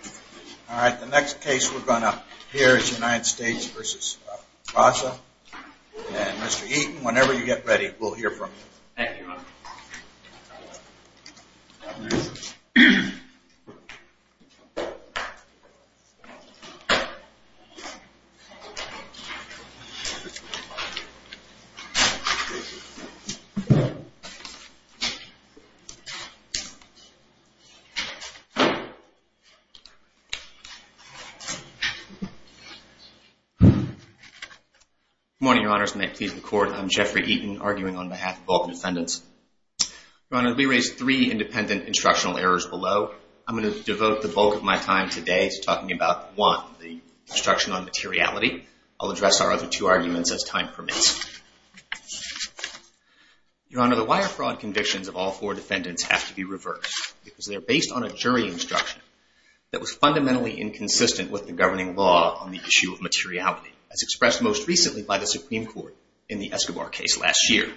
All right, the next case we're going to hear is United States v. Raza, and Mr. Eaton, whenever you get ready, we'll hear from you. Thank you, Your Honor. Good morning, Your Honors, and may it please the Court, I'm Jeffrey Eaton, arguing on behalf of both defendants. Your Honor, we raised three independent instructional errors below. I'm going to devote the bulk of my time today to talking about one, the obstruction on materiality. I'll address our other two arguments as time permits. Your Honor, the wire fraud convictions of all four defendants have to be reversed because they're based on a jury instruction that was fundamentally inconsistent with the governing law on the issue of materiality, as expressed most recently by the Supreme Court in the Escobar case last year.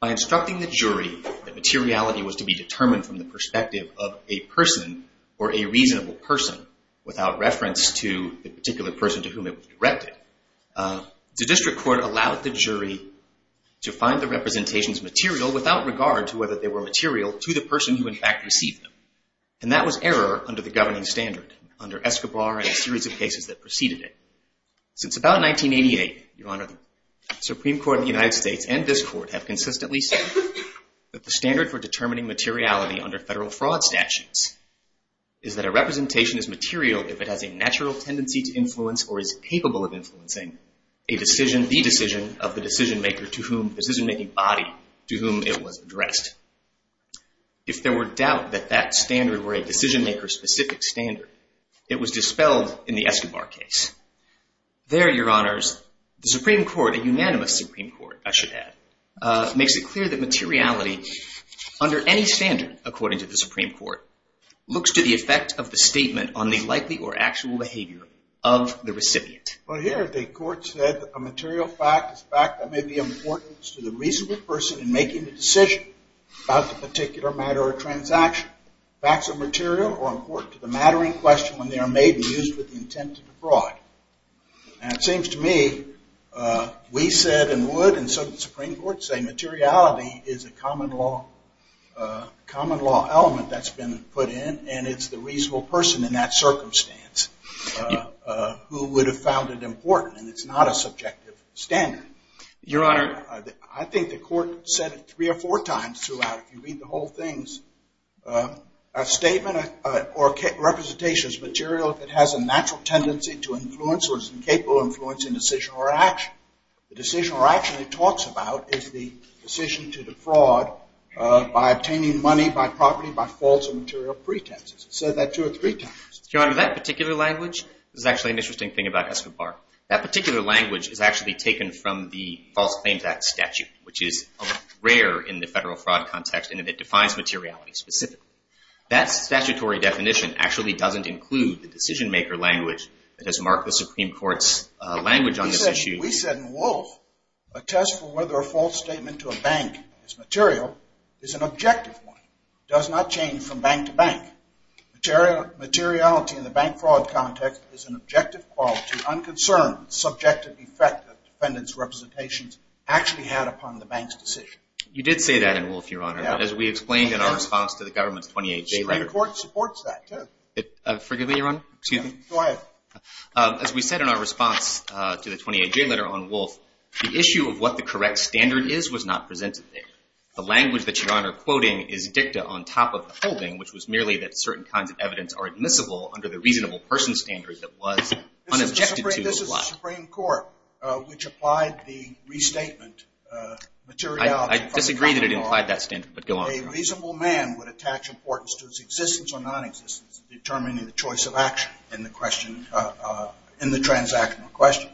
By instructing the jury that materiality was to be determined from the perspective of a person or a reasonable person without reference to the particular person to whom it was directed, the district court allowed the jury to find the representations material without regard to whether they were material to the person who, in fact, received them. And that was error under the governing standard under Escobar and a series of cases that preceded it. Since about 1988, Your Honor, the Supreme Court of the United States and this Court have consistently said that the standard for determining materiality under federal fraud statutes is that a representation is material if it has a natural tendency to influence or is capable of influencing the decision of the decision-making body to whom it was addressed. If there were doubt that that standard were a decision-maker-specific standard, it was dispelled in the Escobar case. There, Your Honors, the Supreme Court, a unanimous Supreme Court, I should add, makes it clear that materiality under any standard, according to the Supreme Court, looks to the effect of the statement on the likely or actual behavior of the recipient. Well, here the Court said that a material fact is a fact that may be of importance to the reasonable person in making the decision about the particular matter or transaction. Facts of material are important to the matter in question when they are made and used with the intent to defraud. And it seems to me we said and would and so did the Supreme Court say materiality is a common law element that's been put in and it's the reasonable person in that circumstance who would have found it important and it's not a subjective standard. Your Honor, I think the Court said it three or four times throughout. If you read the whole things, a statement or representation is material if it has a natural tendency to influence or is incapable of influencing decision or action. The decision or action it talks about is the decision to defraud by obtaining money by property by false or material pretenses. It said that two or three times. Your Honor, that particular language is actually an interesting thing about Escobar. That particular language is actually taken from the False Claims Act statute, which is rare in the federal fraud context and it defines materiality specifically. That statutory definition actually doesn't include the decision-maker language that has marked the Supreme Court's language on this issue. We said in Wolf a test for whether a false statement to a bank is material is an objective one. It does not change from bank to bank. Materiality in the bank fraud context is an objective quality unconcerned with the subjective effect that defendants' representations actually had upon the bank's decision. You did say that in Wolf, Your Honor, as we explained in our response to the government's 28-J letter. The Supreme Court supports that, too. Forgive me, Your Honor. Go ahead. As we said in our response to the 28-J letter on Wolf, the issue of what the correct standard is was not presented there. The language that you, Your Honor, are quoting is dicta on top of the holding, which was merely that certain kinds of evidence are admissible under the reasonable person standard that was unobjected to apply. This is the Supreme Court, which applied the restatement materiality. I disagree that it implied that standard, but go on. A reasonable man would attach importance to his existence or nonexistence in determining the choice of action in the transactional question.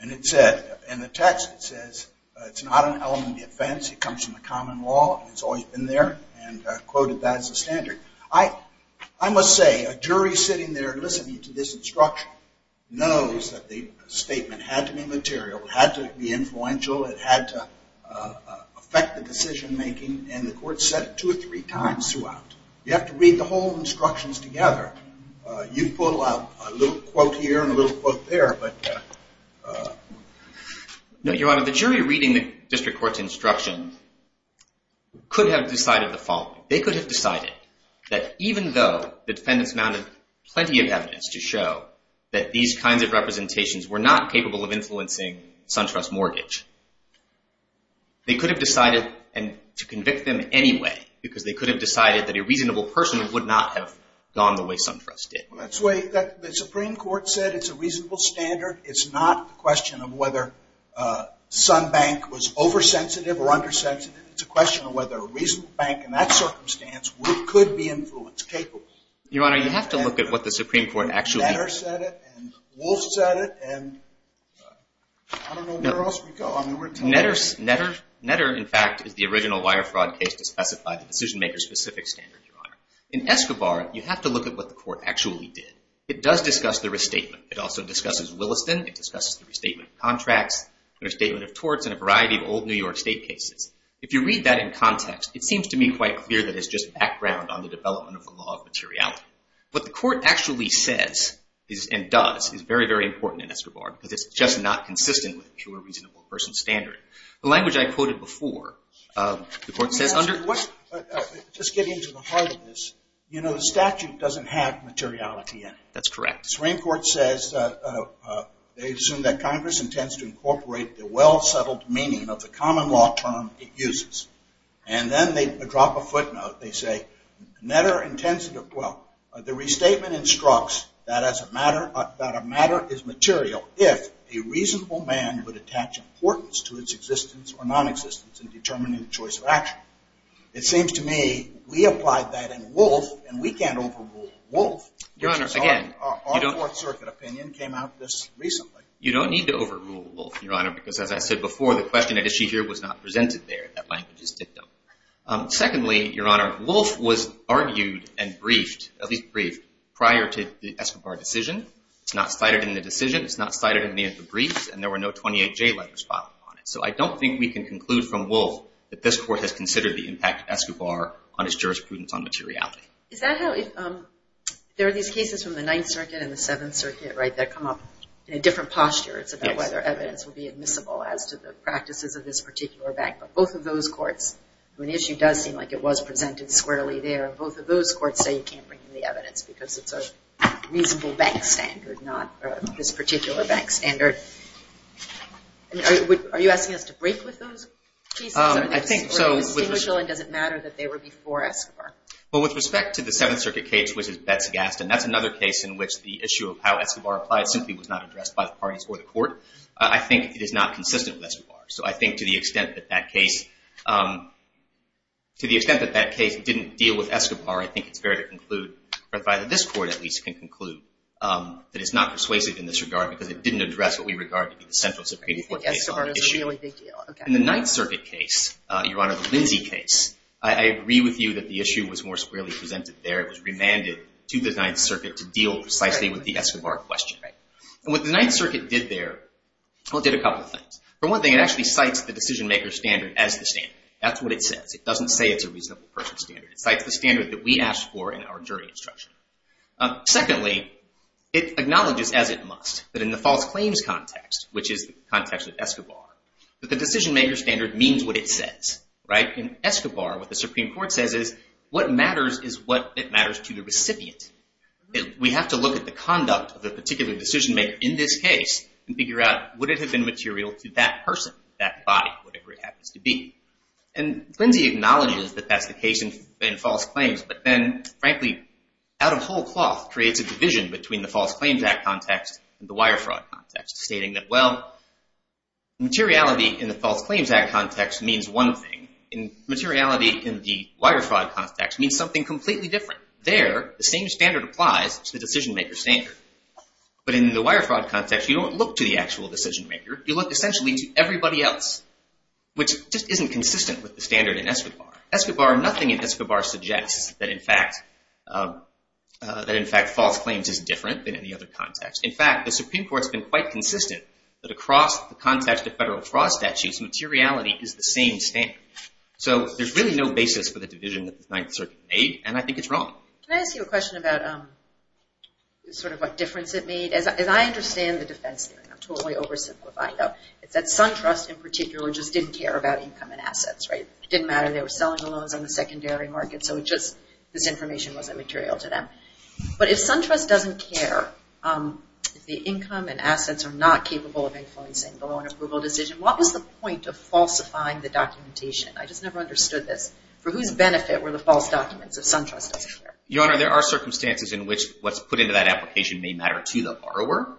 And it said in the text, it says, it's not an element of defense. It comes from the common law, and it's always been there, and quoted that as the standard. I must say, a jury sitting there listening to this instruction knows that the statement had to be material, had to be influential, it had to affect the decision-making, and the court said it two or three times throughout. You have to read the whole instructions together. You pull out a little quote here and a little quote there. No, Your Honor, the jury reading the district court's instruction could have decided the following. They could have decided that even though the defendants mounted plenty of evidence to show that these kinds of representations were not capable of influencing SunTrust mortgage, they could have decided to convict them anyway because they could have decided that a reasonable person would not have gone the way SunTrust did. That's why the Supreme Court said it's a reasonable standard. It's not a question of whether SunBank was oversensitive or undersensitive. It's a question of whether a reasonable bank in that circumstance could be influenced, capable. Your Honor, you have to look at what the Supreme Court actually said. I don't know where else we go. Netter, in fact, is the original wire fraud case to specify the decision-maker-specific standard, Your Honor. In Escobar, you have to look at what the court actually did. It does discuss the restatement. It also discusses Williston. It discusses the restatement of contracts, the restatement of torts, and a variety of old New York State cases. If you read that in context, it seems to me quite clear that it's just background on the development of the law of materiality. What the court actually says and does is very, very important in Escobar, because it's just not consistent with a pure reasonable person standard. The language I quoted before, the court says under- Just getting to the heart of this, the statute doesn't have materiality in it. That's correct. The Supreme Court says that they assume that Congress intends to incorporate the well-settled meaning of the common law term it uses. And then they drop a footnote. They say, the restatement instructs that a matter is material if a reasonable man would attach importance to its existence or nonexistence in determining the choice of action. It seems to me we applied that in Wolfe, and we can't overrule Wolfe. Your Honor, again- Our Fourth Circuit opinion came out this recently. You don't need to overrule Wolfe, Your Honor, because as I said before, the question at issue here was not presented there. That language is dictum. Secondly, Your Honor, Wolfe was argued and briefed, at least briefed, prior to the Escobar decision. It's not cited in the decision. It's not cited in any of the briefs, and there were no 28J letters filed on it. So I don't think we can conclude from Wolfe that this court has considered the impact of Escobar on its jurisprudence on materiality. There are these cases from the Ninth Circuit and the Seventh Circuit, right, that come up in a different posture. It's about whether evidence will be admissible as to the practices of this particular bank. But both of those courts, when the issue does seem like it was presented squarely there, both of those courts say you can't bring in the evidence because it's a reasonable bank standard, not this particular bank standard. Are you asking us to break with those cases? It's distinguishable and doesn't matter that they were before Escobar. Well, with respect to the Seventh Circuit case, which is Betz-Gaston, that's another case in which the issue of how Escobar applied simply was not addressed by the parties or the court. I think it is not consistent with Escobar. So I think to the extent that that case didn't deal with Escobar, I think it's fair to conclude, or that this court at least can conclude, that it's not persuasive in this regard because it didn't address what we regard to be the central Supreme Court case on the issue. You think Escobar is a really big deal. In the Ninth Circuit case, Your Honor, the Lindsay case, I agree with you that the issue was more squarely presented there. It was remanded to the Ninth Circuit to deal precisely with the Escobar question. And what the Ninth Circuit did there, well, it did a couple of things. For one thing, it actually cites the decision-maker standard as the standard. That's what it says. It doesn't say it's a reasonable person standard. It cites the standard that we asked for in our jury instruction. Secondly, it acknowledges as it must that in the false claims context, which is the context of Escobar, that the decision-maker standard means what it says. In Escobar, what the Supreme Court says is what matters is what matters to the recipient. We have to look at the conduct of a particular decision-maker in this case and figure out would it have been material to that person, that body, whatever it happens to be. And Lindsay acknowledges that that's the case in false claims. But then, frankly, out of whole cloth, creates a division between the False Claims Act context and the Wire Fraud context, stating that, well, materiality in the False Claims Act context means one thing. And materiality in the Wire Fraud context means something completely different. There, the same standard applies to the decision-maker standard. But in the Wire Fraud context, you don't look to the actual decision-maker. You look essentially to everybody else, which just isn't consistent with the standard in Escobar. Nothing in Escobar suggests that, in fact, false claims is different than any other context. In fact, the Supreme Court's been quite consistent that across the context of federal fraud statutes, materiality is the same standard. So there's really no basis for the division that the Ninth Circuit made, and I think it's wrong. Can I ask you a question about sort of what difference it made? As I understand the defense theory, I'm totally oversimplifying, though. It's that SunTrust in particular just didn't care about income and assets, right? It didn't matter. They were selling the loans on the secondary market, so it just – this information wasn't material to them. But if SunTrust doesn't care, if the income and assets are not capable of influencing the loan approval decision, what was the point of falsifying the documentation? I just never understood this. For whose benefit were the false documents if SunTrust doesn't care? Your Honor, there are circumstances in which what's put into that application may matter to the borrower,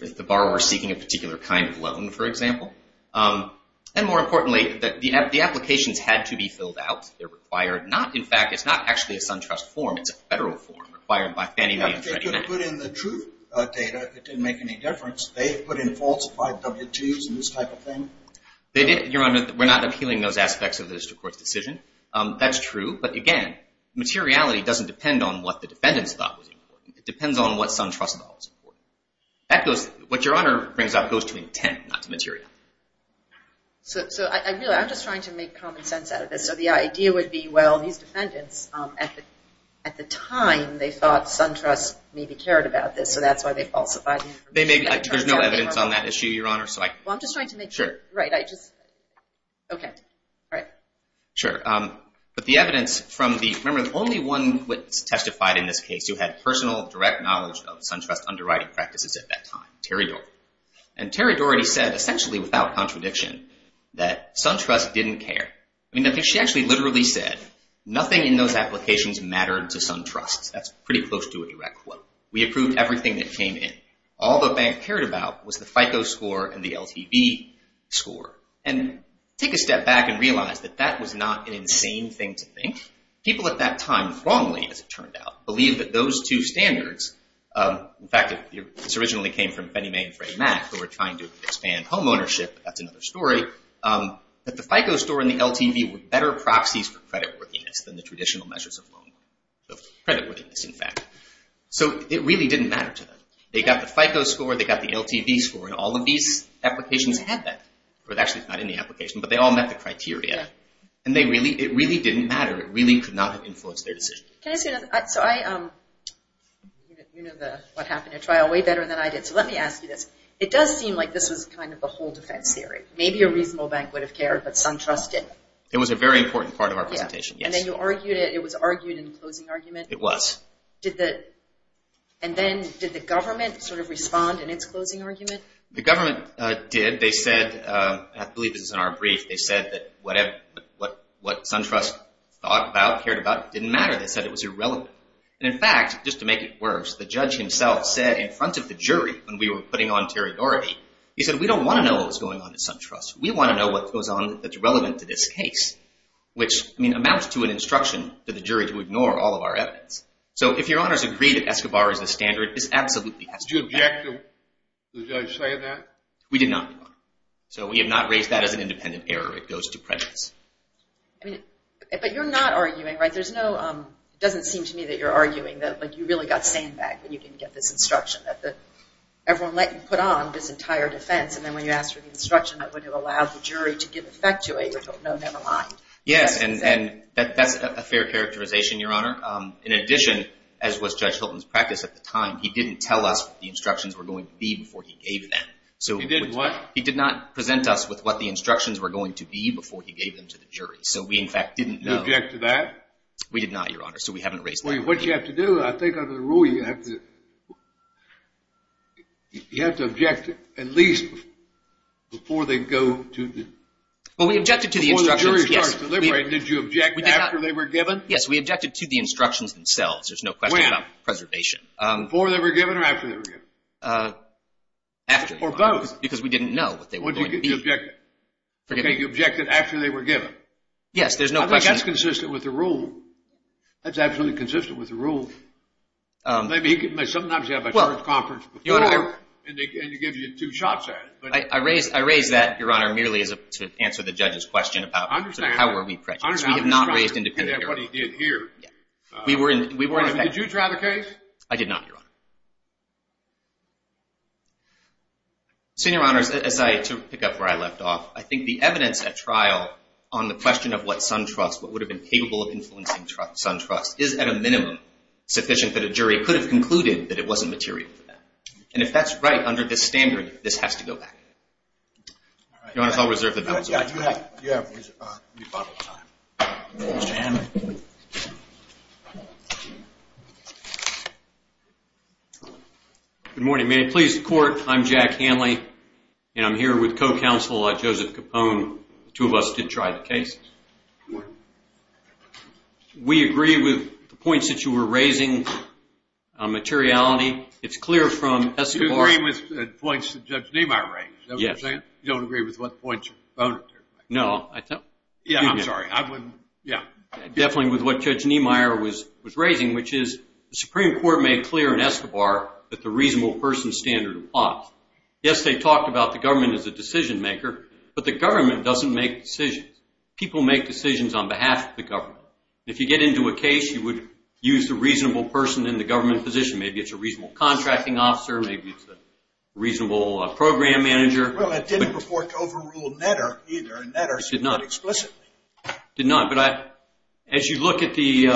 if the borrower is seeking a particular kind of loan, for example. And more importantly, the applications had to be filled out. They're required not – in fact, it's not actually a SunTrust form. It's a federal form required by Fannie Mae and Freddie Mac. Yeah, but they could have put in the truth data. It didn't make any difference. They put in falsified W-2s and this type of thing. They did, Your Honor. We're not appealing those aspects of the district court's decision. That's true. But, again, materiality doesn't depend on what the defendants thought was important. It depends on what SunTrust thought was important. What Your Honor brings up goes to intent, not to materiality. So, really, I'm just trying to make common sense out of this. So the idea would be, well, these defendants, at the time, they thought SunTrust maybe cared about this, so that's why they falsified the information. There's no evidence on that issue, Your Honor. Well, I'm just trying to make sure. Sure. Right. Okay. All right. Sure. But the evidence from the, remember, the only one witness testified in this case who had personal, direct knowledge of SunTrust underwriting practices at that time, Terry Doherty. And Terry Doherty said, essentially, without contradiction, that SunTrust didn't care. I mean, I think she actually literally said, nothing in those applications mattered to SunTrust. That's pretty close to a direct quote. We approved everything that came in. All the bank cared about was the FICO score and the LTV score. And take a step back and realize that that was not an insane thing to think. People at that time, wrongly, as it turned out, believed that those two standards, in fact, this originally came from Fannie Mae and Fred Mack who were trying to expand homeownership, but that's another story, that the FICO score and the LTV were better proxies for creditworthiness than the traditional measures of creditworthiness, in fact. So it really didn't matter to them. They got the FICO score, they got the LTV score, and all of these applications had that. Well, actually, it's not in the application, but they all met the criteria. And it really didn't matter. It really could not have influenced their decision. Can I say something? You know what happened in trial way better than I did, so let me ask you this. It does seem like this was kind of the whole defense theory. Maybe a reasonable bank would have cared, but SunTrust didn't. It was a very important part of our presentation, yes. And then you argued it. It was argued in the closing argument? It was. And then did the government sort of respond in its closing argument? The government did. I believe this is in our brief. They said that what SunTrust thought about, cared about, didn't matter. They said it was irrelevant. And, in fact, just to make it worse, the judge himself said in front of the jury when we were putting on territory, he said, we don't want to know what's going on at SunTrust. We want to know what goes on that's relevant to this case, which amounts to an instruction to the jury to ignore all of our evidence. So if Your Honors agree that Escobar is the standard, this absolutely has to happen. Did you object to the judge saying that? We did not, Your Honor. So we have not raised that as an independent error. It goes to prejudice. But you're not arguing, right? There's no – it doesn't seem to me that you're arguing that, like, you really got sandbagged when you didn't get this instruction, that everyone let you put on this entire defense, and then when you asked for the instruction, that would have allowed the jury to give effect to it. No, never mind. Yes, and that's a fair characterization, Your Honor. In addition, as was Judge Hilton's practice at the time, he didn't tell us what the instructions were going to be before he gave them. He did what? He did not present us with what the instructions were going to be before he gave them to the jury. So we, in fact, didn't know. You object to that? We did not, Your Honor, so we haven't raised that. Well, what you have to do, I think under the rule, you have to object at least before they go to the – Well, we objected to the instructions. Before the jury started deliberating, did you object after they were given? Yes, we objected to the instructions themselves. There's no question about preservation. Before they were given or after they were given? After. Or both. Because we didn't know what they were going to be. What did you object to? Okay, you objected after they were given. Yes, there's no question. I think that's consistent with the rule. That's absolutely consistent with the rule. Sometimes you have a conference before and they give you two shots at it. I raise that, Your Honor, merely to answer the judge's question about how were we prejudiced. We have not raised independent – He did what he did here. Did you drive a case? I did not, Your Honor. Senior Honors, as I – to pick up where I left off, I think the evidence at trial on the question of what Suntrust, what would have been capable of influencing Suntrust, is at a minimum sufficient that a jury could have concluded that it wasn't material for them. And if that's right under this standard, this has to go back. Your Honor, I'll reserve the vote. You have rebuttal time. Mr. Hammond. Good morning. May it please the Court, I'm Jack Hanley, and I'm here with co-counsel Joseph Capone. The two of us did try the case. Good morning. We agree with the points that you were raising on materiality. It's clear from – You agree with the points that Judge Nemar raised, is that what you're saying? Yes. You don't agree with what points your opponent – No, I – Yeah, I'm sorry. I wouldn't – yeah. Definitely with what Judge Nemar was raising, which is the Supreme Court made clear in Escobar that the reasonable person standard applies. Yes, they talked about the government as a decision maker, but the government doesn't make decisions. People make decisions on behalf of the government. If you get into a case, you would use the reasonable person in the government position. Maybe it's a reasonable contracting officer. Maybe it's a reasonable program manager. Well, it didn't purport to overrule Netter either. It did not. It did not, but as you look at the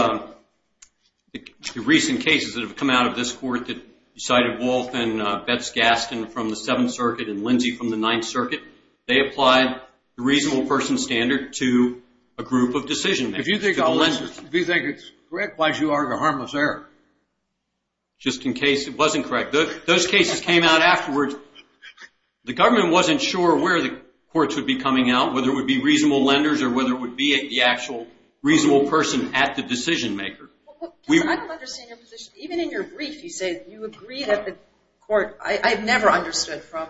recent cases that have come out of this court that cited Wolff and Betz-Gaston from the Seventh Circuit and Lindsay from the Ninth Circuit, they applied the reasonable person standard to a group of decision makers. If you think it's correct, why should you argue a harmless error? Just in case it wasn't correct. Those cases came out afterwards. The government wasn't sure where the courts would be coming out, whether it would be reasonable lenders or whether it would be the actual reasonable person at the decision maker. I don't understand your position. Even in your brief, you say you agree that the court – I've never understood from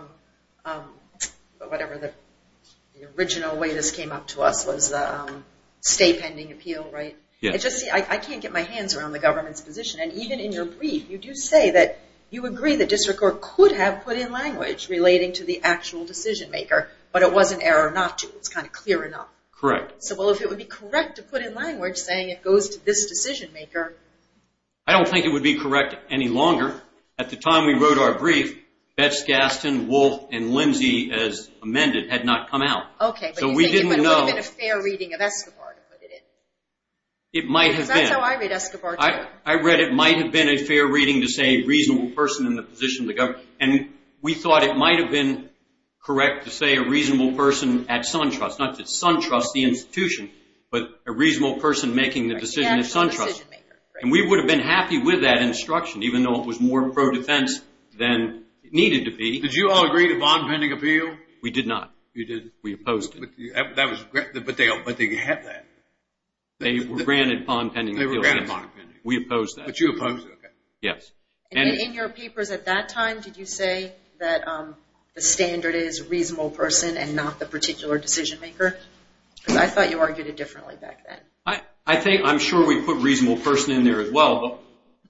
whatever the original way this came up to us was the stay pending appeal, right? I can't get my hands around the government's position, and even in your brief you do say that you agree that district court could have put in language relating to the actual decision maker, but it was an error not to. It's kind of clear enough. Correct. So, well, if it would be correct to put in language saying it goes to this decision maker – I don't think it would be correct any longer. At the time we wrote our brief, Betz-Gaston, Wolff, and Lindsay, as amended, had not come out. Okay, but you think it would have been a fair reading of Escobar to put it in? It might have been. Because that's how I read Escobar, too. I read it might have been a fair reading to say reasonable person in the position of the government, and we thought it might have been correct to say a reasonable person at SunTrust, not just SunTrust the institution, but a reasonable person making the decision at SunTrust. And we would have been happy with that instruction, even though it was more pro-defense than it needed to be. Did you all agree to bond pending appeal? We did not. You did? We opposed it. But they had that. They were granted bond pending appeal, yes. They were granted bond pending. We opposed that. But you opposed it, okay. Yes. And in your papers at that time, did you say that the standard is reasonable person and not the particular decision maker? Because I thought you argued it differently back then. I think I'm sure we put reasonable person in there as well, but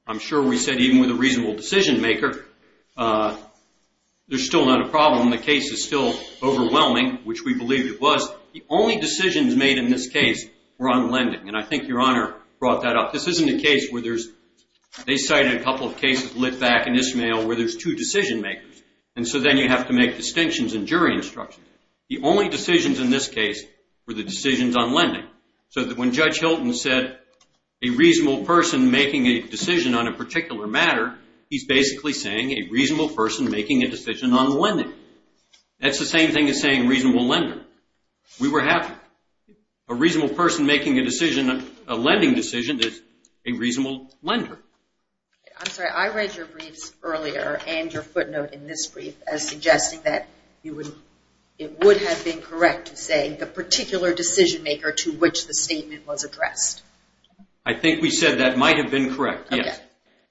I'm sure we said even with a reasonable decision maker, there's still not a problem. The case is still overwhelming, which we believe it was. The only decisions made in this case were on lending, and I think Your Honor brought that up. This isn't a case where there's – they cited a couple of cases lit back in this mail where there's two decision makers, and so then you have to make distinctions in jury instructions. The only decisions in this case were the decisions on lending. So when Judge Hilton said a reasonable person making a decision on a particular matter, he's basically saying a reasonable person making a decision on the lending. That's the same thing as saying reasonable lender. We were happy. A reasonable person making a decision on a lending decision is a reasonable lender. I'm sorry. I read your briefs earlier and your footnote in this brief as suggesting that it would have been correct to say the particular decision maker to which the statement was addressed. I think we said that might have been correct, yes.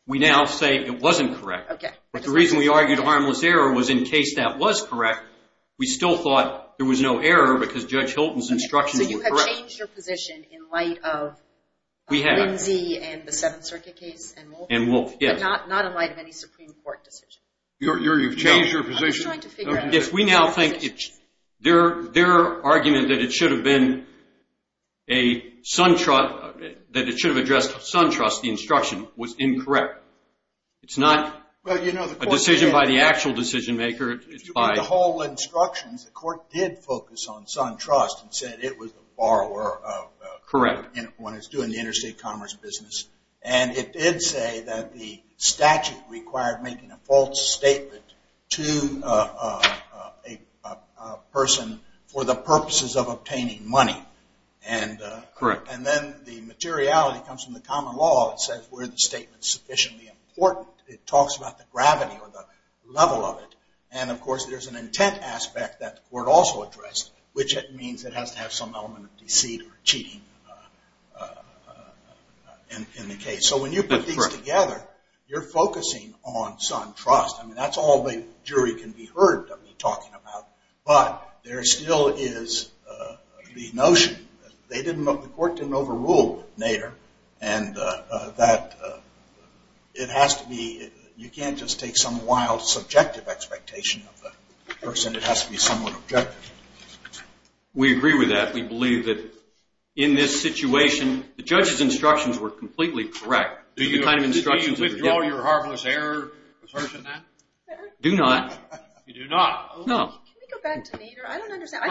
We now say it wasn't correct. But the reason we argued harmless error was in case that was correct, we still thought there was no error because Judge Hilton's instructions were correct. So you have changed your position in light of Lindsay and the Seventh Circuit case and Wolfe? And Wolfe, yes. But not in light of any Supreme Court decision? You've changed your position? I'm trying to figure out – Yes, we now think their argument that it should have been a – that it should have addressed SunTrust, the instruction, was incorrect. It's not a decision by the actual decision maker. The whole instructions, the court did focus on SunTrust and said it was the borrower. Correct. When it's doing the interstate commerce business. And it did say that the statute required making a false statement to a person for the purposes of obtaining money. Correct. And then the materiality comes from the common law. It says where the statement is sufficiently important. It talks about the gravity or the level of it. And, of course, there's an intent aspect that the court also addressed, which it means it has to have some element of deceit or cheating in the case. So when you put these together, you're focusing on SunTrust. I mean, that's all the jury can be heard of me talking about. But there still is the notion that they didn't – the court didn't overrule Nader and that it has to be – you can't just take some wild subjective expectation of the person. It has to be somewhat objective. We agree with that. We believe that in this situation, the judge's instructions were completely correct. Do you withdraw your harmless error assertion then? Do not. You do not? No. Can we go back to Nader? I don't understand.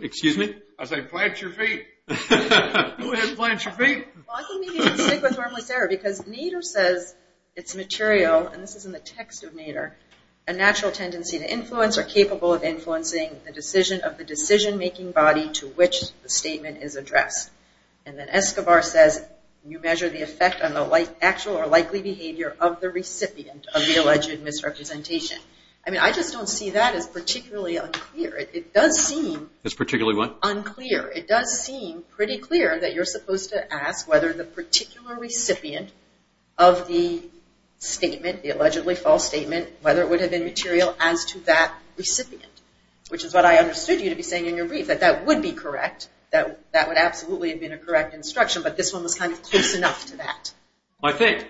Excuse me? I said plant your feet. Who has plants for feet? Well, I think maybe you should stick with harmless error because Nader says it's material, and this is in the text of Nader, a natural tendency to influence or capable of influencing the decision of the decision-making body to which the statement is addressed. And then Escobar says you measure the effect on the actual or likely behavior of the recipient of the alleged misrepresentation. I mean, I just don't see that as particularly unclear. It does seem – As particularly what? pretty clear that you're supposed to ask whether the particular recipient of the statement, the allegedly false statement, whether it would have been material as to that recipient, which is what I understood you to be saying in your brief, that that would be correct, that that would absolutely have been a correct instruction, but this one was kind of close enough to that. Well, I think,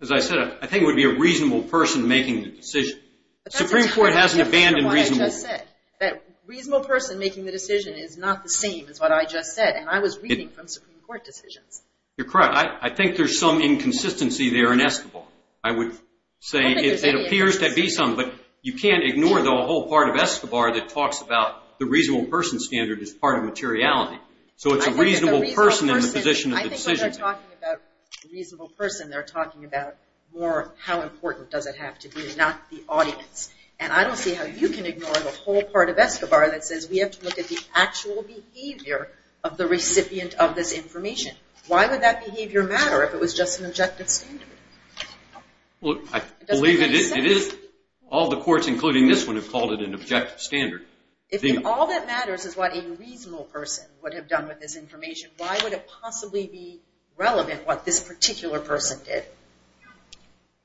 as I said, I think it would be a reasonable person making the decision. The Supreme Court hasn't abandoned reasonable. As I just said, that reasonable person making the decision is not the same as what I just said, and I was reading from Supreme Court decisions. You're correct. I think there's some inconsistency there in Escobar. I would say it appears to be some, but you can't ignore the whole part of Escobar that talks about the reasonable person standard as part of materiality. So it's a reasonable person in the position of the decision-maker. I think when they're talking about reasonable person, they're talking about more how important does it have to be, not the audience. And I don't see how you can ignore the whole part of Escobar that says we have to look at the actual behavior of the recipient of this information. Why would that behavior matter if it was just an objective standard? Well, I believe it is. All the courts, including this one, have called it an objective standard. If all that matters is what a reasonable person would have done with this information, why would it possibly be relevant what this particular person did?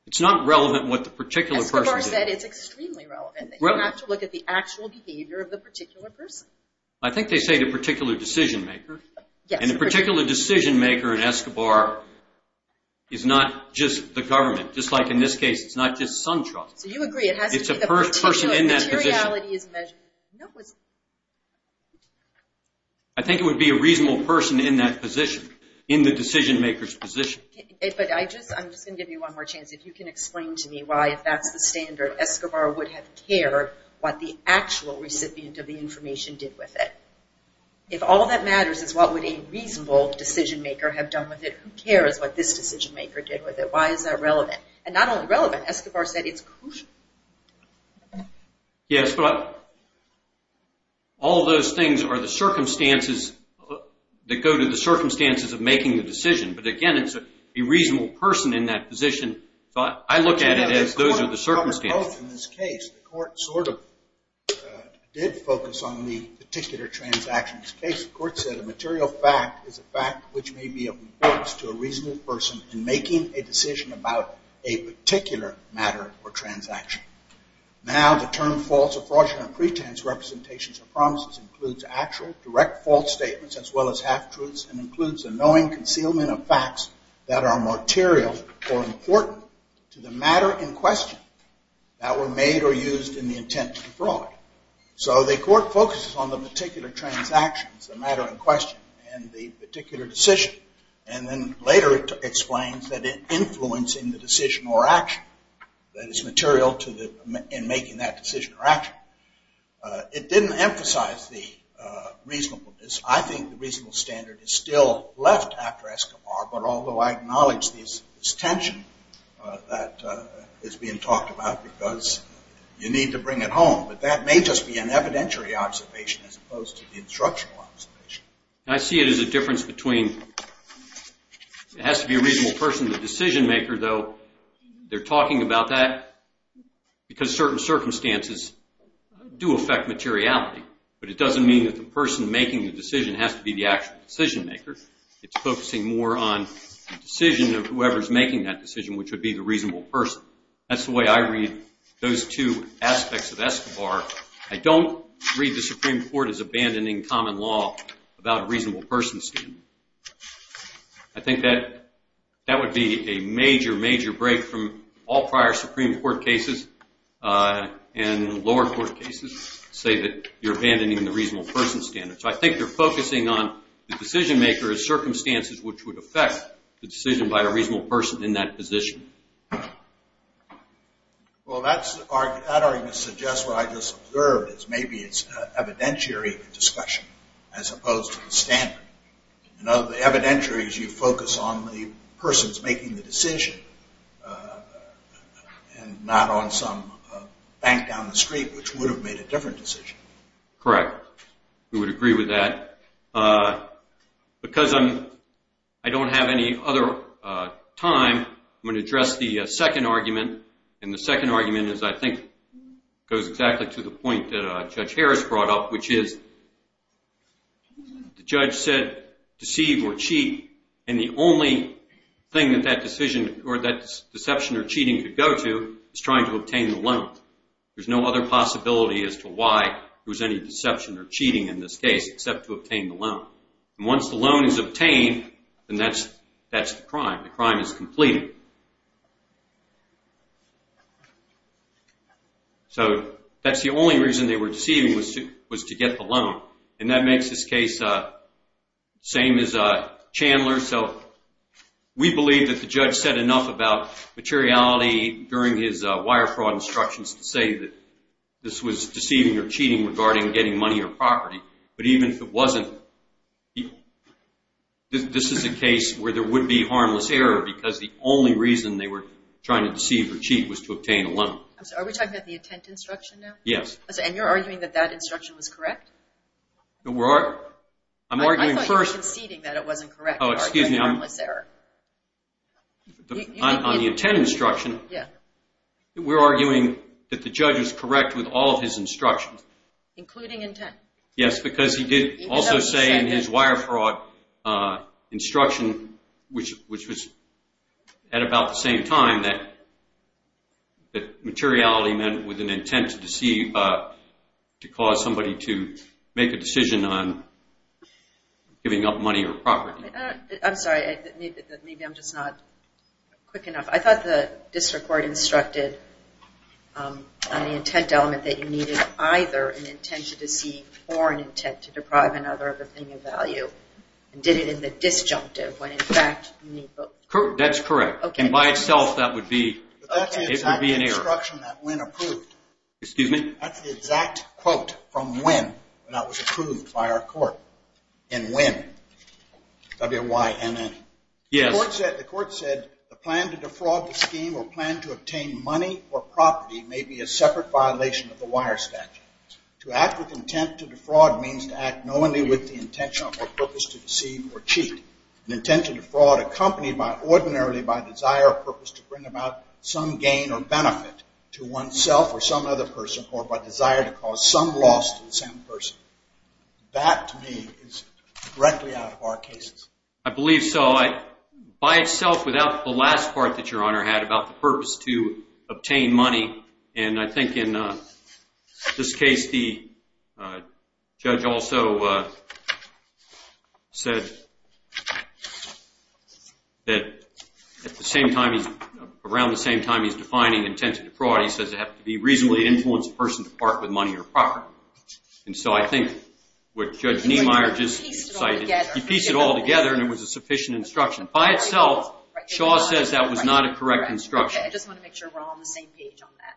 It's not relevant what the particular person did. You said it's extremely relevant. Really? You have to look at the actual behavior of the particular person. I think they say the particular decision-maker. Yes. And the particular decision-maker in Escobar is not just the government. Just like in this case, it's not just SunTrust. So you agree. It has to be the person in that position. It's the person in that position. Materiality is measured. No, it's not. I think it would be a reasonable person in that position, in the decision-maker's position. But I'm just going to give you one more chance. If you can explain to me why, if that's the standard, Escobar would have cared what the actual recipient of the information did with it. If all that matters is what would a reasonable decision-maker have done with it, who cares what this decision-maker did with it? Why is that relevant? And not only relevant, Escobar said it's crucial. Yes, but all those things are the circumstances that go to the circumstances of making the decision. But, again, it's a reasonable person in that position. So I look at it as those are the circumstances. In this case, the court sort of did focus on the particular transaction. In this case, the court said a material fact is a fact which may be of importance to a reasonable person in making a decision about a particular matter or transaction. Now the term false or fraudulent pretense representations or promises includes actual, as well as half-truths, and includes a knowing concealment of facts that are material or important to the matter in question that were made or used in the intent of the fraud. So the court focuses on the particular transactions, the matter in question, and the particular decision. And then later it explains that it's influencing the decision or action, that it's material in making that decision or action. It didn't emphasize the reasonableness. I think the reasonable standard is still left after Escobar, but although I acknowledge this tension that is being talked about because you need to bring it home, but that may just be an evidentiary observation as opposed to the instructional observation. I see it as a difference between it has to be a reasonable person, the decision maker, though they're talking about that because certain circumstances do affect materiality, but it doesn't mean that the person making the decision has to be the actual decision maker. It's focusing more on the decision of whoever's making that decision, which would be the reasonable person. That's the way I read those two aspects of Escobar. I don't read the Supreme Court as abandoning common law about a reasonable person standard. I think that would be a major, major break from all prior Supreme Court cases and lower court cases say that you're abandoning the reasonable person standard. So I think they're focusing on the decision maker as circumstances which would affect the decision by a reasonable person in that position. Well, that argument suggests what I just observed is maybe it's evidentiary discussion as opposed to the standard. The evidentiary is you focus on the person's making the decision and not on some bank down the street which would have made a different decision. Correct. We would agree with that. Because I don't have any other time, I'm going to address the second argument, and the second argument I think goes exactly to the point that Judge Harris brought up, which is the judge said deceive or cheat, and the only thing that that deception or cheating could go to is trying to obtain the loan. There's no other possibility as to why there was any deception or cheating in this case except to obtain the loan. Once the loan is obtained, then that's the crime. The crime is completed. So that's the only reason they were deceiving was to get the loan, and that makes this case the same as Chandler. So we believe that the judge said enough about materiality during his wire fraud instructions to say that this was deceiving or cheating regarding getting money or property, but even if it wasn't, this is a case where there would be harmless error because the only reason they were trying to deceive or cheat was to obtain a loan. Are we talking about the intent instruction now? Yes. And you're arguing that that instruction was correct? I'm arguing first. I thought you were conceding that it wasn't correct. Oh, excuse me. On the intent instruction, we're arguing that the judge was correct with all of his instructions. Including intent? Yes, because he did also say in his wire fraud instruction, which was at about the same time, that materiality meant with an intent to deceive, to cause somebody to make a decision on giving up money or property. I'm sorry. Maybe I'm just not quick enough. I thought the district court instructed on the intent element that you needed either an intention to deceive or an intent to deprive another of a thing of value and did it in the disjunctive when, in fact, you need both. That's correct. And by itself, that would be an error. But that's the exact instruction that Wynn approved. Excuse me? That's the exact quote from Wynn that was approved by our court in Wynn, W-Y-N-N. Yes. The court said, the plan to defraud the scheme or plan to obtain money or property may be a separate violation of the wire statute. To act with intent to defraud means to act knowingly with the intention or purpose to deceive or cheat. An intent to defraud accompanied ordinarily by a desire or purpose to bring about some gain or benefit to oneself or some other person or by desire to cause some loss to the same person. That, to me, is directly out of our cases. I believe so. But by itself, without the last part that Your Honor had about the purpose to obtain money, and I think in this case the judge also said that around the same time he's defining intent to defraud, he says it has to be reasonably to influence a person to part with money or property. And so I think what Judge Niemeyer just cited, he pieced it all together and it was a sufficient instruction. By itself, Shaw says that was not a correct instruction. I just want to make sure we're all on the same page on that.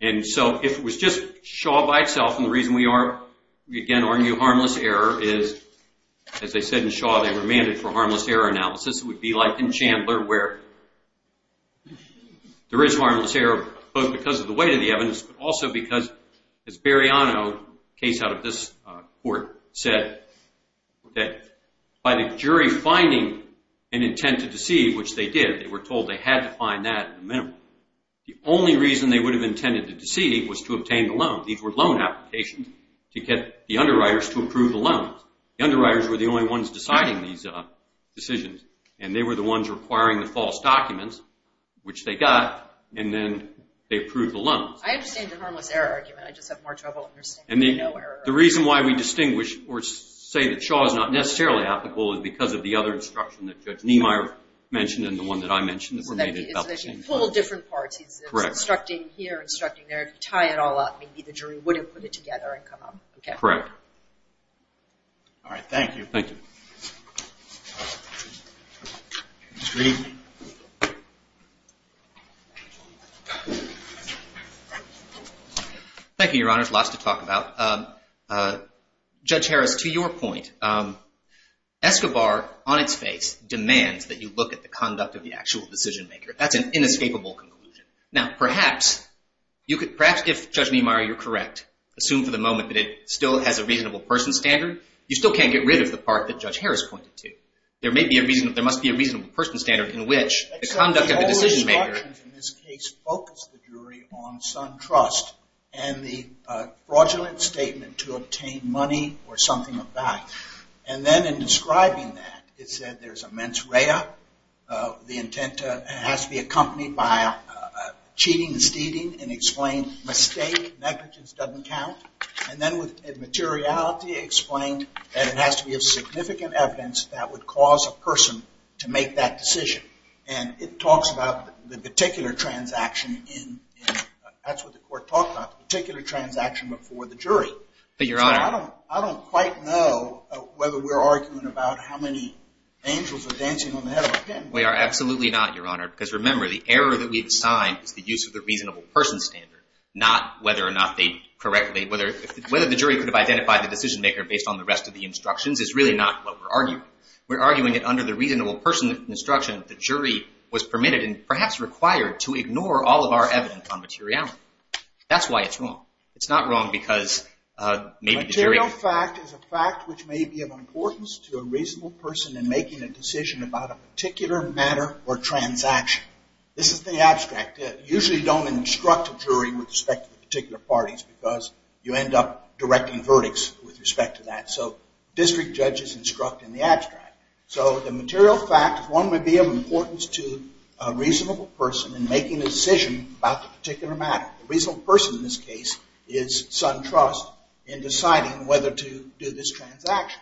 And so if it was just Shaw by itself, and the reason we are, again, argue harmless error is, as I said in Shaw, they were mandated for harmless error analysis. It would be like in Chandler where there is harmless error both because of the weight of the evidence but also because, as Beriano, a case out of this court, said, that by the jury finding an intent to deceive, which they did, they were told they had to find that minimum, the only reason they would have intended to deceive was to obtain the loan. These were loan applications to get the underwriters to approve the loans. The underwriters were the only ones deciding these decisions, and they were the ones requiring the false documents, which they got, and then they approved the loans. I understand the harmless error argument. I just have more trouble understanding the no error argument. The reason why we distinguish or say that Shaw is not necessarily applicable is because of the other instruction that Judge Niemeyer mentioned and the one that I mentioned that were made at Belkin. It's a little different parts. He's instructing here, instructing there. If you tie it all up, maybe the jury wouldn't put it together and come up. Correct. All right. Thank you. Thank you. Mr. Green? Thank you, Your Honors. Lots to talk about. Judge Harris, to your point, Escobar, on its face, demands that you look at the conduct of the actual decision maker. That's an inescapable conclusion. Now, perhaps if Judge Niemeyer, you're correct, assume for the moment that it still has a reasonable person standard, you still can't get rid of the part that Judge Harris pointed to. There must be a reasonable person standard in which the conduct of the decision maker The instructions in this case focus the jury on some trust and the fraudulent statement to obtain money or something of that. And then in describing that, it said there's a mens rea. The intent has to be accompanied by cheating and stealing and explain mistake, negligence doesn't count. And then with materiality explained, and it has to be of significant evidence that would cause a person to make that decision. And it talks about the particular transaction in, that's what the court talked about, the particular transaction before the jury. But Your Honor. I don't quite know whether we're arguing about how many angels are dancing on the head of a pin. We are absolutely not, Your Honor. Because remember, the error that we've assigned is the use of the reasonable person standard, not whether or not they correctly, whether the jury could have identified the decision maker based on the rest of the instructions is really not what we're arguing. We're arguing that under the reasonable person instruction, the jury was permitted and perhaps required to ignore all of our evidence on materiality. That's why it's wrong. It's not wrong because maybe the jury... Material fact is a fact which may be of importance to a reasonable person in making a decision about a particular matter or transaction. This is the abstract. Usually don't instruct a jury with respect to particular parties because you end up directing verdicts with respect to that. So district judges instruct in the abstract. So the material fact, one, would be of importance to a reasonable person in making a decision about the particular matter. The reasonable person in this case is sun trust in deciding whether to do this transaction.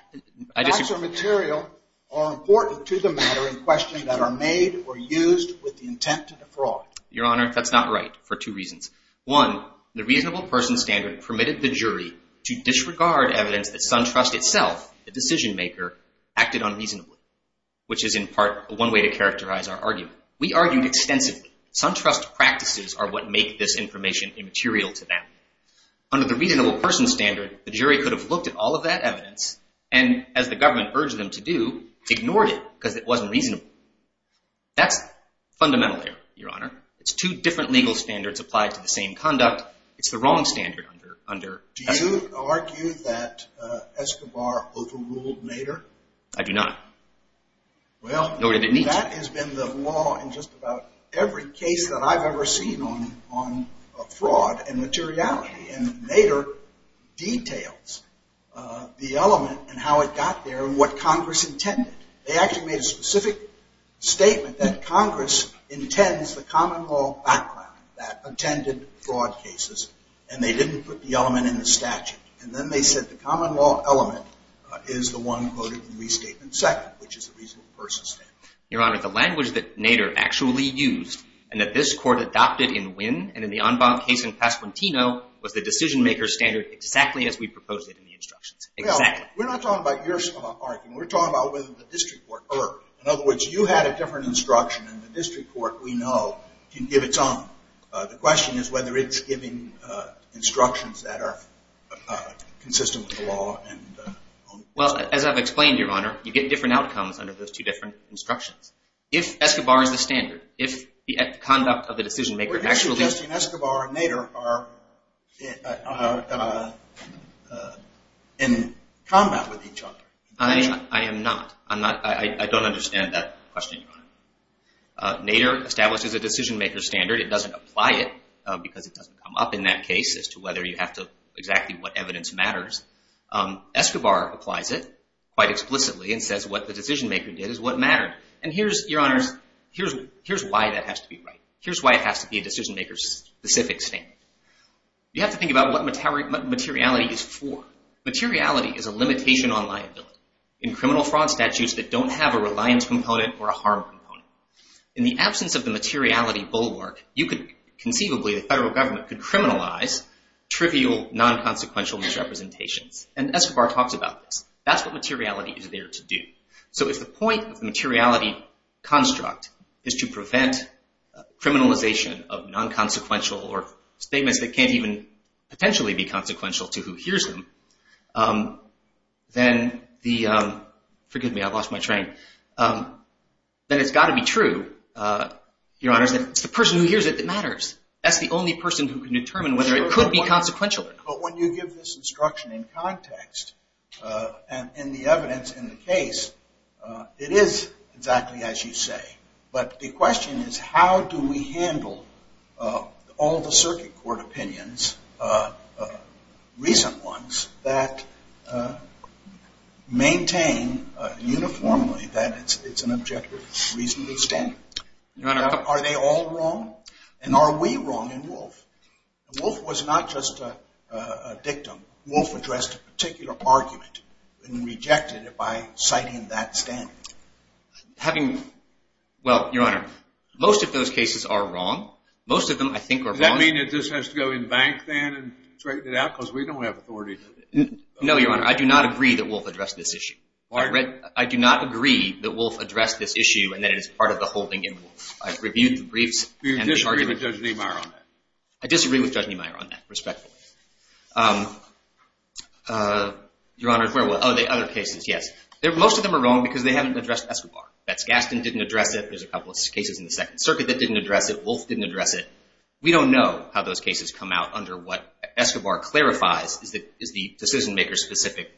Facts or material are important to the matter in question that are made or used with the intent to defraud. Your Honor, that's not right for two reasons. One, the reasonable person standard permitted the jury to disregard evidence that sun trust itself, the decision maker, acted unreasonably, which is in part one way to characterize our argument. We argued extensively. Sun trust practices are what make this information immaterial to them. Under the reasonable person standard, the jury could have looked at all of that evidence and as the government urged them to do, ignored it because it wasn't reasonable. That's fundamental error, Your Honor. It's two different legal standards applied to the same conduct. It's the wrong standard under... Do you argue that Escobar overruled Nader? I do not. Well... Nor did it need to. That has been the law in just about every case that I've ever seen on fraud and materiality. And Nader details the element and how it got there and what Congress intended. They actually made a specific statement that Congress intends the common law background that attended fraud cases and they didn't put the element in the statute. And then they said the common law element is the one quoted in restatement second, which is the reasonable person standard. Your Honor, the language that Nader actually used and that this court adopted in Wynn and in the Anbang case in Pasquantino was the decision maker standard exactly as we proposed it in the instructions. Exactly. We're not talking about your argument. We're talking about whether the district court erred. In other words, you had a different instruction and the district court, we know, can give its own. The question is whether it's giving instructions that are consistent with the law. Well, as I've explained, Your Honor, you get different outcomes under those two different instructions. If Escobar is the standard, if the conduct of the decision maker actually... You're suggesting Escobar and Nader are in combat with each other. I am not. I don't understand that question, Your Honor. Nader establishes a decision maker standard. It doesn't apply it because it doesn't come up in that case as to whether you have to... exactly what evidence matters. Escobar applies it quite explicitly and says what the decision maker did is what mattered. And here's, Your Honors, here's why that has to be right. Here's why it has to be a decision maker-specific standard. You have to think about what materiality is for. Materiality is a limitation on liability. In criminal fraud statutes that don't have a reliance component or a harm component. In the absence of the materiality bulwark, you could conceivably, the federal government could criminalize trivial non-consequential misrepresentations. And Escobar talks about this. That's what materiality is there to do. So if the point of the materiality construct is to prevent criminalization of non-consequential or statements that can't even potentially be consequential to who hears them, then the, forgive me, I lost my train, then it's got to be true, Your Honors, that it's the person who hears it that matters. That's the only person who can determine whether it could be consequential or not. But when you give this instruction in context and in the evidence in the case, it is exactly as you say. But the question is, how do we handle all the circuit court opinions, recent ones, that maintain uniformly that it's an objective reasonable standard? Your Honor. Are they all wrong? And are we wrong in Wolfe? Wolfe was not just a dictum. Wolfe addressed a particular argument and rejected it by citing that standard. Having, well, Your Honor, most of those cases are wrong. Most of them I think are wrong. You mean it just has to go in the bank then and straighten it out because we don't have authority? No, Your Honor. I do not agree that Wolfe addressed this issue. Pardon? I do not agree that Wolfe addressed this issue and that it is part of the holding in Wolfe. I've reviewed the briefs. You disagree with Judge Niemeyer on that? I disagree with Judge Niemeyer on that, respectfully. Your Honor, where were, oh, the other cases, yes. Most of them are wrong because they haven't addressed Escobar. Betz-Gaston didn't address it. There's a couple of cases in the Second Circuit that didn't address it. Wolfe didn't address it. We don't know how those cases come out under what Escobar clarifies is the decision-maker-specific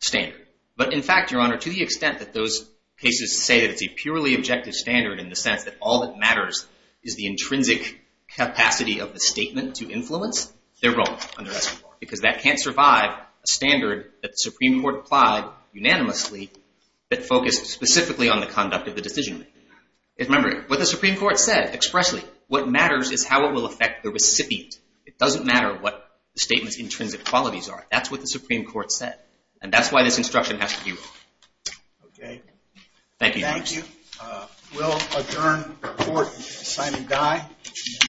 standard. But in fact, Your Honor, to the extent that those cases say that it's a purely objective standard in the sense that all that matters is the intrinsic capacity of the statement to influence, they're wrong under Escobar because that can't survive a standard that the Supreme Court applied unanimously that focused specifically on the conduct of the decision-maker. Remember, what the Supreme Court said expressly, what matters is how it will affect the recipient. It doesn't matter what the statement's intrinsic qualities are. That's what the Supreme Court said. And that's why this instruction has to be wrong. Okay. Thank you, Your Honor. Thank you. We'll adjourn court. Assignment die.